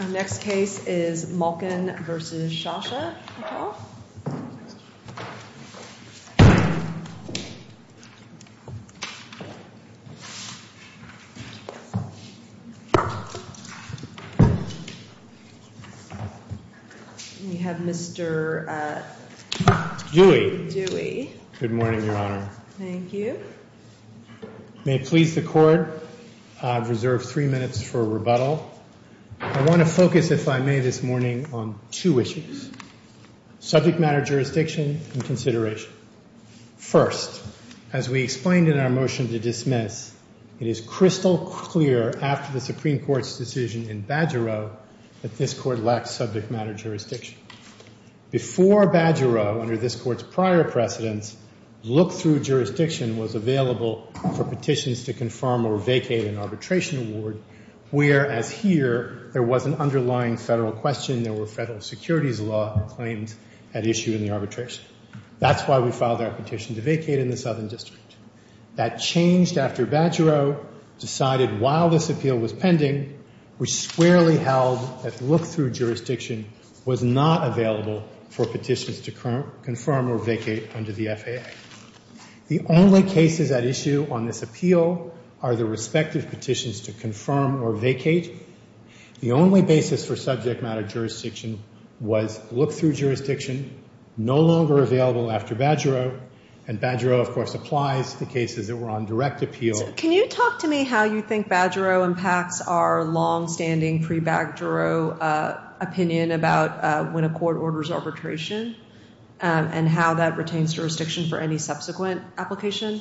Our next case is Malkin v. Shasha. We have Mr. Dewey. Good morning, Your Honor. Thank you. May it please the Court, I have reserved three minutes for rebuttal. I want to focus, if I may this morning, on two issues, subject matter jurisdiction and consideration. First, as we explained in our motion to dismiss, it is crystal clear after the Supreme Court's decision in Bajarro that this Court lacks subject matter jurisdiction. Before Bajarro, under this Court's prior precedence, look-through jurisdiction was available for petitions to confirm or vacate under the FAA. The only cases at issue on this appeal are the respective petitions to confirm or vacate The only basis for subject matter jurisdiction was look-through jurisdiction, no longer available after Bajarro, and Bajarro, of course, applies to cases that were on direct appeal. Can you talk to me how you think Bajarro impacts our longstanding pre-Bajarro opinion about when a court orders arbitration and how that retains jurisdiction for any subsequent application?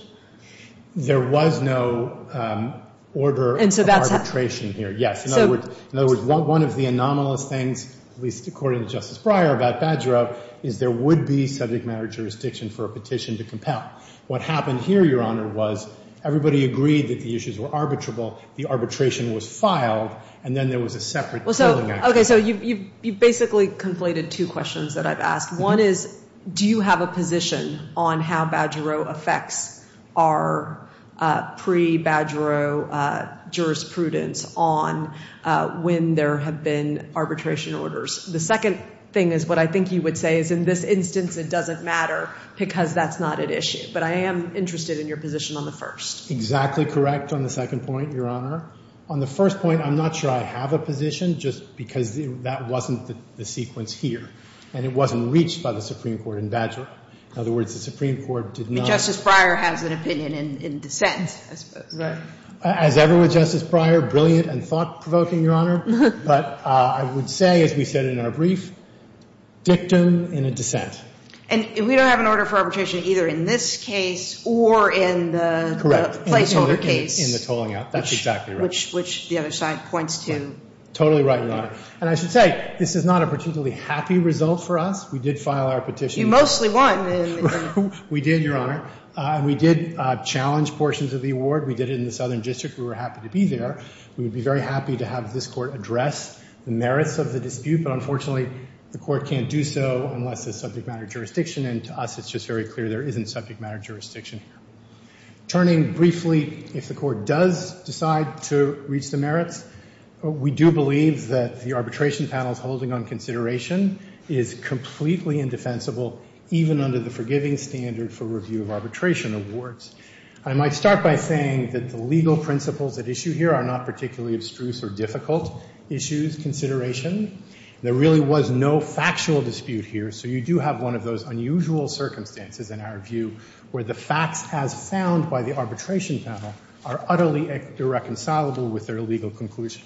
There was no order of arbitration here. In other words, one of the anomalous things, at least according to Justice Breyer, about Bajarro is there would be subject matter jurisdiction for a petition to compel. What happened here, Your Honor, was everybody agreed that the issues were arbitrable, the arbitration was filed, and then there was a separate claiming action. You've basically conflated two questions that I've asked. One is, do you have a position on how Bajarro affects our pre-Bajarro jurisprudence on when there have been arbitration orders? The second thing is what I think you would say is in this instance it doesn't matter because that's not at issue, but I am interested in your position on the first. Exactly correct on the second point, Your Honor. On the first point, I'm not sure I have a position just because that wasn't the sequence here, and it wasn't reached by the Supreme Court in Bajarro. In other words, the Supreme Court did not — But Justice Breyer has an opinion in dissent, I suppose. Right. As ever with Justice Breyer, brilliant and thought-provoking, Your Honor. But I would say, as we said in our brief, dictum in a dissent. And we don't have an order for arbitration either in this case or in the — Correct. — placeholder case. In the tolling out. That's exactly right. Which the other side points to. Totally right, Your Honor. And I should say, this is not a particularly happy result for us. We did file our petition. You mostly won in the — We did, Your Honor. And we did challenge portions of the award. We did it in the Southern District. We were happy to be there. We would be very happy to have this Court address the merits of the dispute. But unfortunately, the Court can't do so unless there's subject matter jurisdiction. And to us, it's just very clear there isn't subject matter jurisdiction. Turning briefly, if the Court does decide to reach the merits, we do believe that the arbitration panel's holding on consideration is completely indefensible, even under the forgiving standard for review of arbitration awards. I might start by saying that the legal principles at issue here are not particularly abstruse or difficult issues, consideration. There really was no factual dispute here. So you do have one of those unusual circumstances, in our view, where the facts as found by the arbitration panel are utterly irreconcilable with their legal conclusion.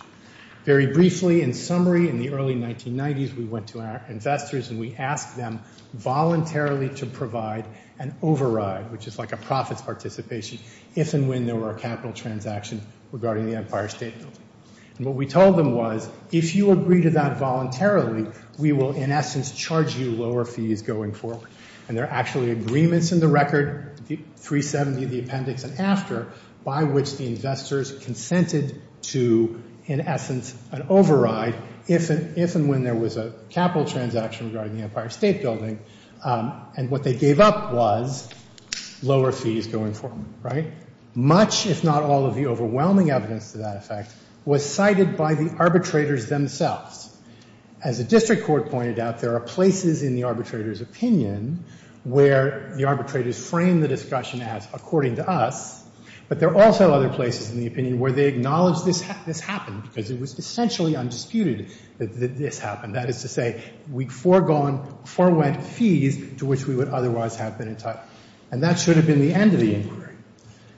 Very briefly, in summary, in the early 1990s, we went to our investors and we asked them voluntarily to provide an override, which is like a profits participation, if and when there were a capital transaction regarding the Empire State Building. And what we told them was, if you agree to that voluntarily, we will, in essence, charge you lower fees going forward. And there are actually agreements in the record, the 370, the appendix, and after, by which the investors consented to, in essence, an override, if and when there was a capital transaction regarding the Empire State Building. And what they gave up was lower fees going forward, right? Much, if not all, of the overwhelming evidence to that effect was cited by the arbitrators themselves. As the district court pointed out, there are places in the arbitrator's opinion where the arbitrators frame the discussion as according to us, but there are also other places in the opinion where they acknowledge this happened because it was essentially undisputed that this happened. That is to say, we forewent fees to which we would otherwise have been entitled. And that should have been the end of the inquiry.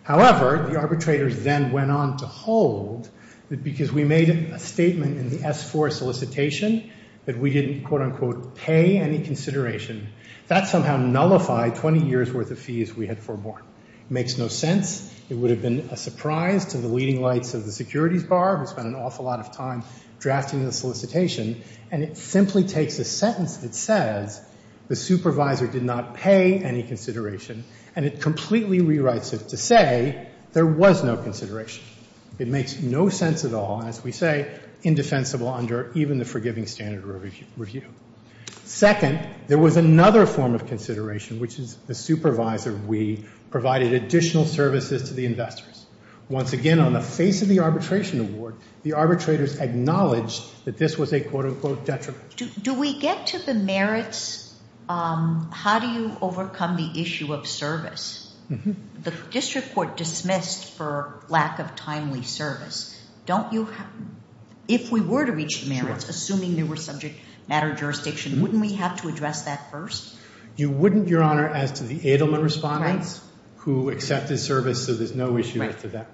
However, the arbitrators then went on to hold that because we made a statement in the S-4 solicitation that we didn't, quote, unquote, pay any consideration, that somehow nullified 20 years' worth of fees we had forewarned. It makes no sense. It would have been a surprise to the leading lights of the securities bar who spent an awful lot of time drafting the solicitation. And it simply takes a sentence that says the supervisor did not pay any consideration and it completely rewrites it to say there was no consideration. It makes no sense at all, as we say, indefensible under even the forgiving standard review. Second, there was another form of consideration, which is the supervisor, we provided additional services to the investors. Once again, on the face of the arbitration award, the arbitrators acknowledged that this was a, quote, unquote, detriment. Do we get to the merits? How do you overcome the issue of service? The district court dismissed for lack of timely service. Don't you, if we were to reach the merits, assuming they were subject matter jurisdiction, wouldn't we have to address that first? You wouldn't, Your Honor, as to the Edelman respondents, who accepted service, so there's no issue with that.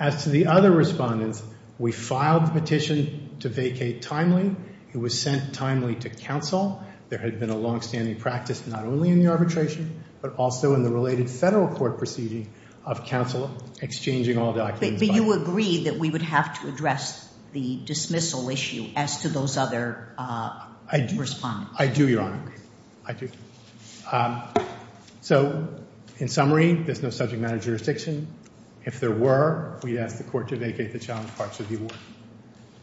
As to the other respondents, we filed the petition to vacate timely. It was sent timely to counsel. There had been a longstanding practice, not only in the arbitration, but also in the related federal court proceeding of counsel exchanging all documents. But you agreed that we would have to address the dismissal issue as to those other respondents. I do, Your Honor. I do. So, in summary, there's no subject matter jurisdiction. If there were, we'd ask the court to vacate the challenge parts of the award.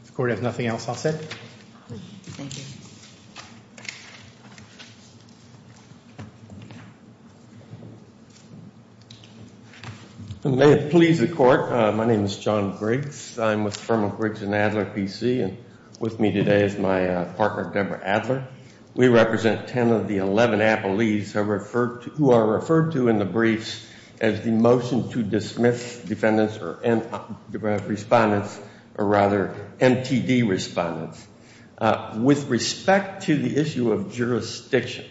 If the court has nothing else, I'll sit. Thank you. May it please the court, my name is John Griggs. I'm with the firm of Griggs and Adler PC, and with me today is my partner, Deborah Adler. We represent 10 of the 11 appellees who are referred to in the briefs as the motion to dismiss defendants or respondents, or rather, MTD respondents. With respect to the issue of jurisdiction,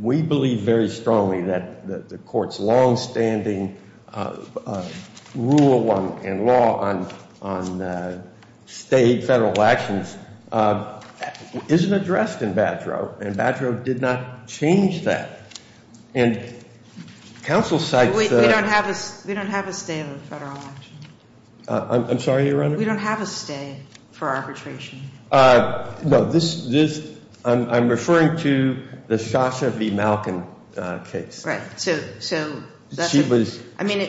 we believe very strongly that the court's longstanding rule and law on state federal actions isn't addressed in Badger Oath, and Badger Oath did not change that. And counsel cites the- We don't have a stay in the federal election. I'm sorry, Your Honor? We don't have a stay for arbitration. No, this, I'm referring to the Shasha V. Malkin case. Right, so that's a- She was- I mean,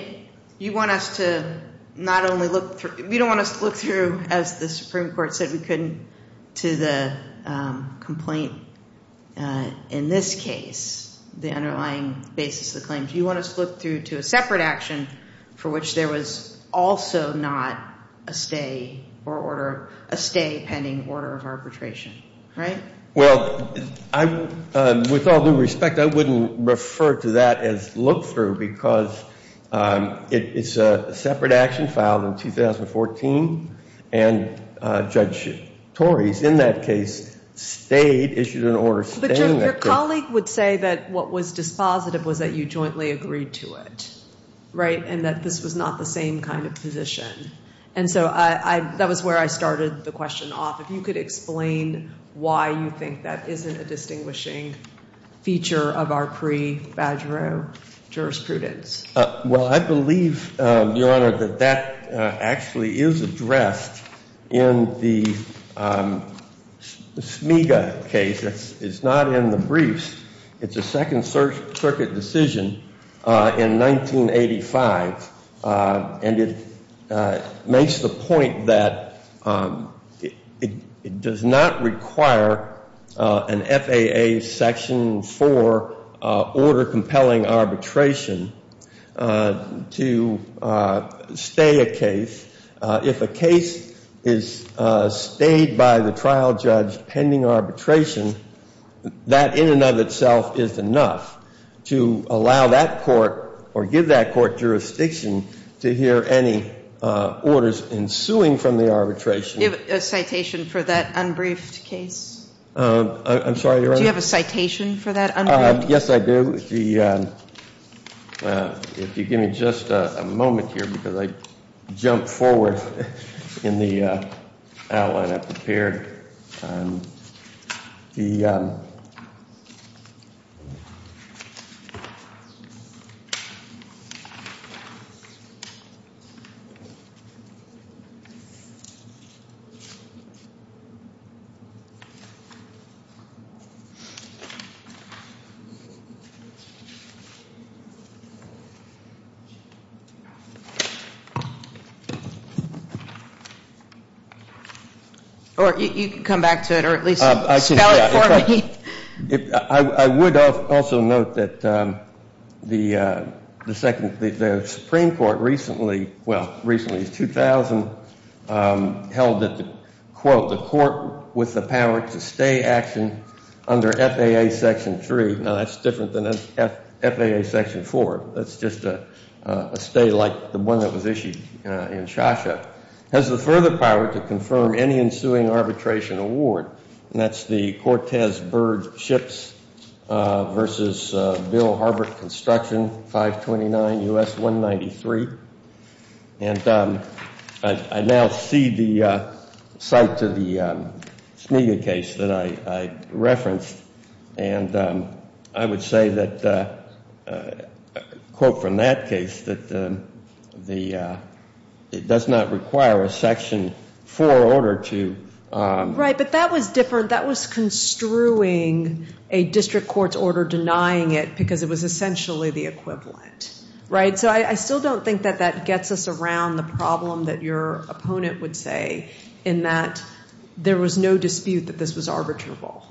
you want us to not only look through, we don't want us to look through, as the Supreme Court said we couldn't, to the complaint in this case, the underlying basis of the claims. You want us to look through to a separate action for which there was also not a stay or order, a stay pending order of arbitration, right? Well, I, with all due respect, I wouldn't refer to that as look through, because it's a separate action filed in 2014, and Judge Tories, in that case, stayed, issued an order staying- But your colleague would say that what was dispositive was that you jointly agreed to it, right? And that this was not the same kind of position. And so I, that was where I started the question off. If you could explain why you think that isn't a distinguishing feature of our pre-Badger Oath jurisprudence. Well, I believe, Your Honor, that that actually is addressed in the Smiga case. It's not in the briefs. It's a Second Circuit decision in 1985. And it makes the point that it does not require an FAA Section 4 order compelling arbitration to stay a case. If a case is stayed by the trial judge pending arbitration, that in and of itself is enough to allow that court, or give that court jurisdiction to hear any orders ensuing from the arbitration. Do you have a citation for that unbriefed case? I'm sorry, Your Honor? Do you have a citation for that unbriefed case? Yes, I do. If you give me just a moment here, because I jumped forward in the outline I prepared. Or you can come back to it, or at least spell it for me. I would also note that the Supreme Court recently, well, recently, 2000, held that, quote, the court with the power to stay action under FAA Section 3. Now, that's different than FAA Section 4. That's just a stay like the one that was issued in Shosha. Has the further power to confirm any ensuing arbitration award. And that's the Cortez Bird Ships versus Bill Harbert Construction, 529 U.S. 193. And I now cede the site to the Smiga case that I referenced. And I would say that, quote from that case, that it does not require a Section 4 order to. Right, but that was different. That was construing a district court's order denying it because it was essentially the equivalent, right? So I still don't think that that gets us around the problem that your opponent would say in that there was no dispute that this was arbitrable.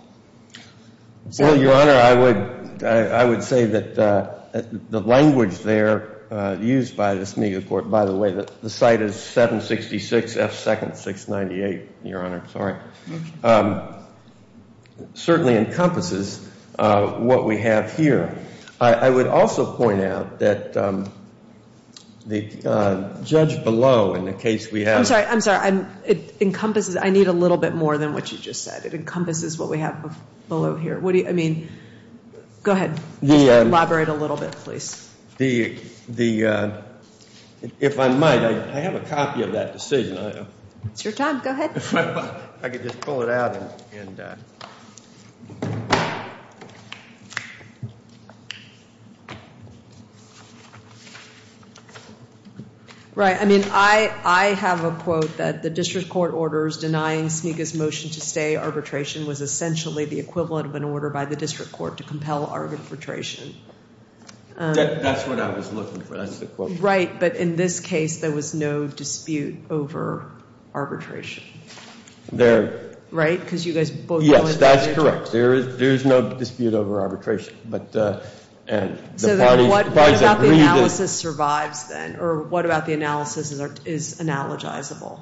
Well, Your Honor, I would say that the language there used by the Smiga court, by the way, the site is 766 F. Second 698, Your Honor, sorry, certainly encompasses what we have here. I would also point out that the judge below in the case we have. I'm sorry, I'm sorry. It encompasses, I need a little bit more than what you just said. It encompasses what we have below here. What do you, I mean, go ahead, elaborate a little bit, please. The, if I might, I have a copy of that decision. It's your time, go ahead. I could just pull it out and. Right, I mean, I have a quote that the district court orders denying Smiga's motion to stay arbitration was essentially the equivalent of an order by the district court to compel arbitration. That's what I was looking for, that's the quote. Right, but in this case, there was no dispute over arbitration. There. Right, because you guys both. Yes, that's correct. There is no dispute over arbitration, but. So then what about the analysis survives then, or what about the analysis is analogizable?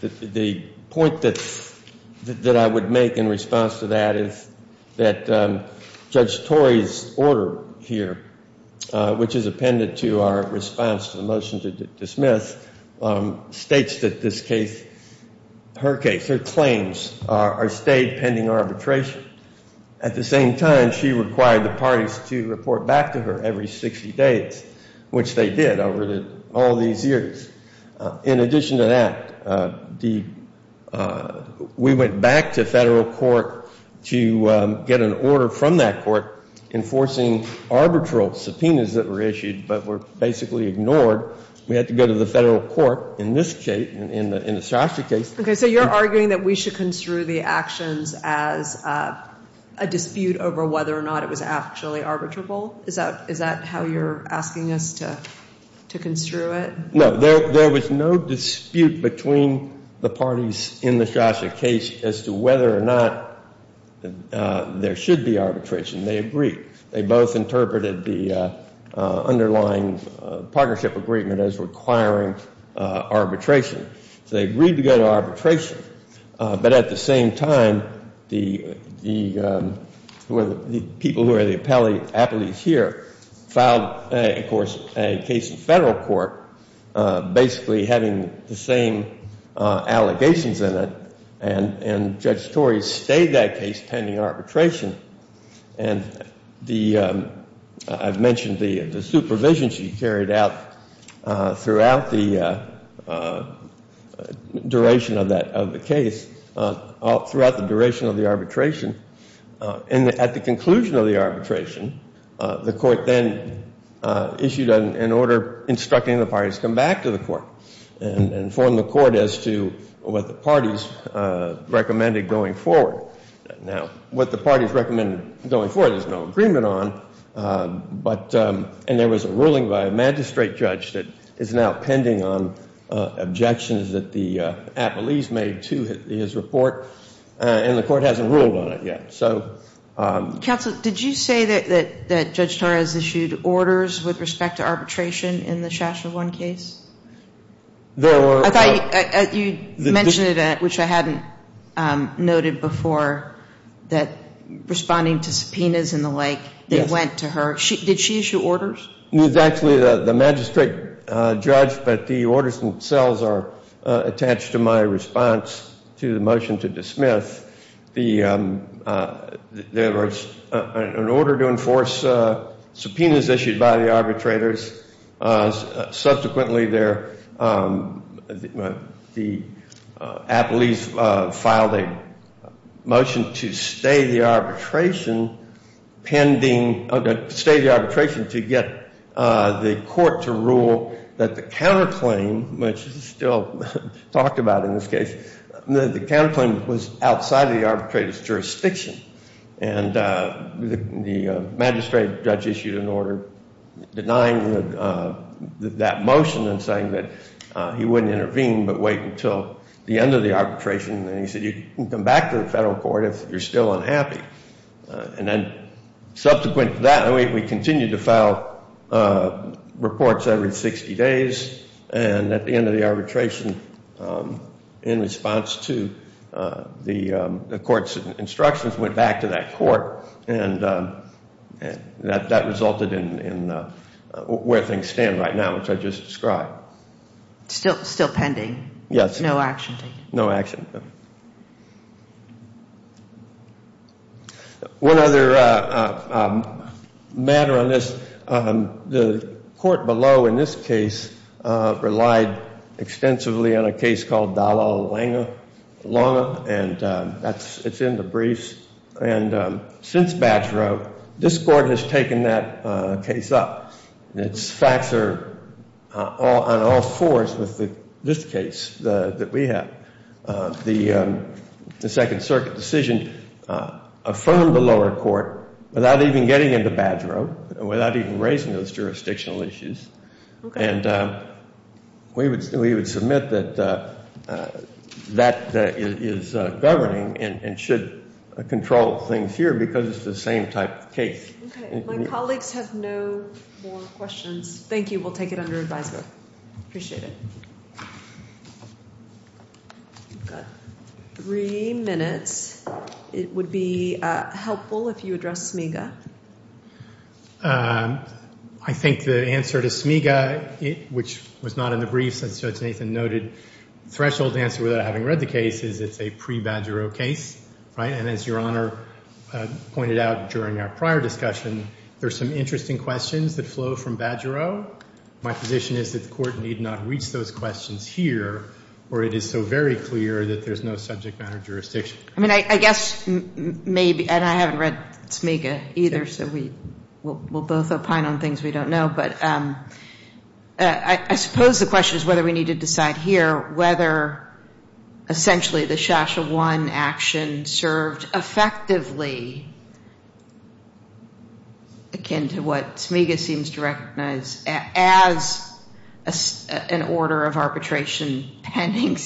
The point that I would make in response to that is that Judge Torrey's order here, which is appended to our response to the motion to dismiss, states that this case, her case, her claims are stayed pending arbitration. At the same time, she required the parties to report back to her every 60 days, which they did over all these years. In addition to that, the, we went back to federal court to get an order from that court enforcing arbitral subpoenas that were issued, but were basically ignored. We had to go to the federal court in this case, in the Shosha case. Okay, so you're arguing that we should construe the actions as a dispute over whether or not it was actually arbitrable? Is that how you're asking us to construe it? No, there was no dispute between the parties in the Shosha case as to whether or not there should be arbitration. They agreed. They both interpreted the underlying partnership agreement as requiring arbitration. They agreed to go to arbitration, but at the same time, the people who are the appellees here, filed, of course, a case in federal court, basically having the same allegations in it, and Judge Torrey stayed that case pending arbitration. And the, I've mentioned the supervision she carried out throughout the duration of that, of the case, throughout the duration of the arbitration. And at the conclusion of the arbitration, the court then issued an order instructing the parties to come back to the court and inform the court as to what the parties recommended going forward. Now, what the parties recommended going forward, there's no agreement on. But, and there was a ruling by a magistrate judge that is now pending on objections that the appellees made to his report, and the court hasn't ruled on it yet. So. Counsel, did you say that Judge Torrey has issued orders with respect to arbitration in the Shasher 1 case? I thought you mentioned it, which I hadn't noted before, that responding to subpoenas and the like, they went to her. Did she issue orders? It was actually the magistrate judge, but the orders themselves are attached to my response to the motion to dismiss. The, there was an order to enforce subpoenas issued by the arbitrators. Subsequently, there, the appellees filed a motion to stay the arbitration pending, stay the arbitration to get the court to rule that the counterclaim, which is still talked about in this case, that the counterclaim was outside the arbitrator's jurisdiction. And the magistrate judge issued an order denying that motion and saying that he wouldn't intervene but wait until the end of the arbitration. And he said, you can come back to the federal court if you're still unhappy. And then subsequent to that, we continued to file reports every 60 days. And at the end of the arbitration, in response to the court's instructions, went back to that court, and that resulted in where things stand right now, which I just described. Still pending? Yes. No action taken? No action. One other matter on this. The court below, in this case, relied extensively on a case called Dalla Lange. And it's in the briefs. And since Badgero, this court has taken that case up. Its facts are on all fours with this case that we have. The Second Circuit decision affirmed the lower court without even getting into Badgero, without even raising those jurisdictional issues. And we would submit that that is governing and should control things here because it's the same type of case. Okay. My colleagues have no more questions. Thank you. We'll take it under advisement. Appreciate it. We've got three minutes. It would be helpful if you address Smiga. I think the answer to Smiga, which was not in the briefs, as Judge Nathan noted, threshold answer, without having read the case, is it's a pre-Badgero case. Right? And as Your Honor pointed out during our prior discussion, there's some interesting questions that flow from Badgero. My position is that the court need not reach those questions here, or it is so very clear that there's no subject matter jurisdiction. I mean, I guess maybe, and I haven't read Smiga either, so we'll both opine on things we don't know. But I suppose the question is whether we need to decide here whether essentially the Shasha I action served effectively akin to what Smiga seems to recognize as an order of arbitration pending,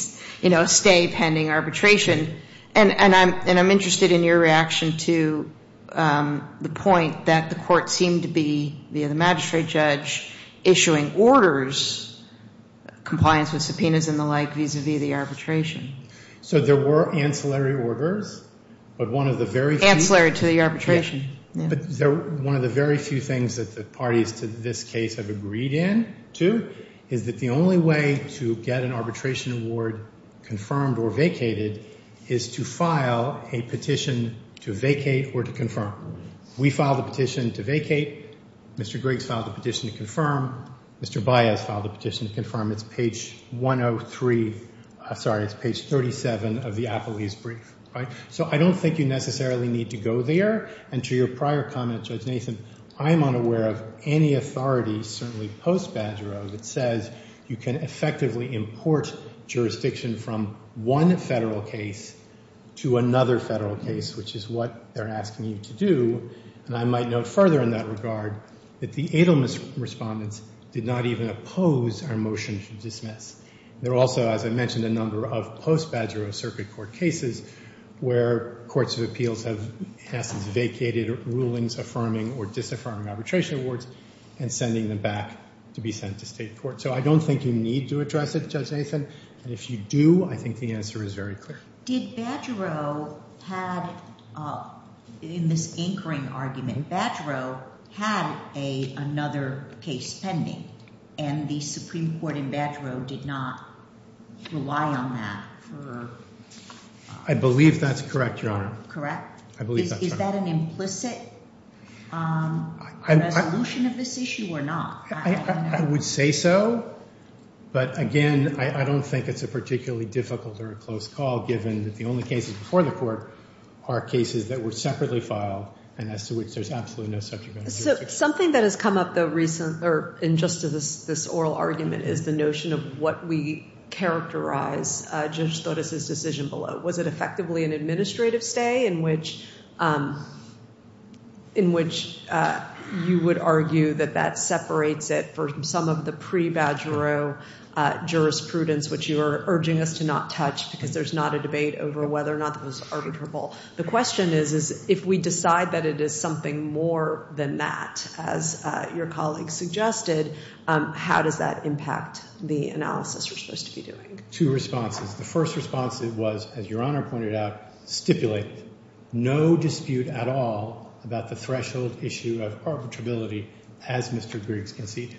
you know, a stay pending arbitration. And I'm interested in your reaction to the point that the court seemed to be, via the magistrate judge, issuing orders, compliance with subpoenas and the like, vis-a-vis the arbitration. So there were ancillary orders, but one of the very few. Ancillary to the arbitration. But one of the very few things that the parties to this case have agreed in to is that the only way to get an arbitration award confirmed or vacated is to file a petition to vacate or to confirm. We filed a petition to vacate. Mr. Griggs filed a petition to confirm. Mr. Baez filed a petition to confirm. It's page 103, sorry, it's page 37 of the Apolis brief, right? So I don't think you necessarily need to go there. And to your prior comment, Judge Nathan, I am unaware of any authority, certainly post-Badgero, that says you can effectively import jurisdiction from one federal case to another federal case, which is what they're asking you to do. And I might note further in that regard that the Adelman respondents did not even oppose our motion to dismiss. There also, as I mentioned, a number of post-Badgero circuit court cases where courts of appeals have asked vacated rulings affirming or disaffirming arbitration awards and sending them back to be sent to state court. So I don't think you need to address it, Judge Nathan. And if you do, I think the answer is very clear. Did Badgero have, in this anchoring argument, Badgero had another case pending and the Supreme Court in Badgero did not rely on that for? I believe that's correct, Your Honor. Correct? I believe that's correct. Is that an implicit resolution of this issue or not? I would say so, but again, I don't think it's a particularly difficult or a close call given that the only cases before the court are cases that were separately filed and as to which there's absolutely no subject matter jurisdiction. Something that has come up in just this oral argument is the notion of what we characterize Judge Torres' decision below. Was it effectively an administrative stay in which you would argue that that separates it for some of the pre-Badgero jurisprudence, which you are urging us to not touch because there's not a debate over whether or not it was arbitrable. The question is if we decide that it is something more than that, as your colleague suggested, how does that impact the analysis we're supposed to be doing? Two responses. The first response was, as your Honor pointed out, stipulate no dispute at all about the threshold issue of arbitrability as Mr. Griggs conceded.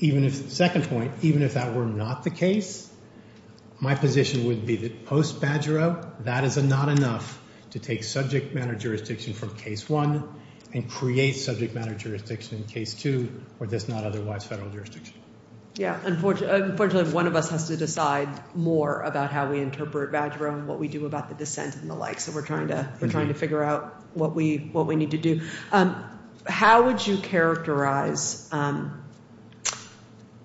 Even if, second point, even if that were not the case, my position would be that post-Badgero, that is not enough to take subject matter jurisdiction from case one and create subject matter jurisdiction in case two where there's not otherwise federal jurisdiction. Yeah. Unfortunately, one of us has to decide more about how we interpret Badgero and what we do about the dissent and the like, so we're trying to figure out what we need to do. How would you characterize,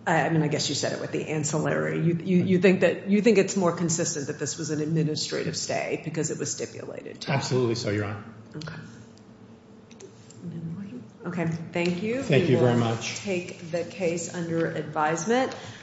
I mean, I guess you said it with the ancillary. You think that, you think it's more consistent that this was an administrative stay because it was stipulated? Absolutely so, your Honor. Okay. Okay. Thank you. Thank you very much. I take the case under advisement.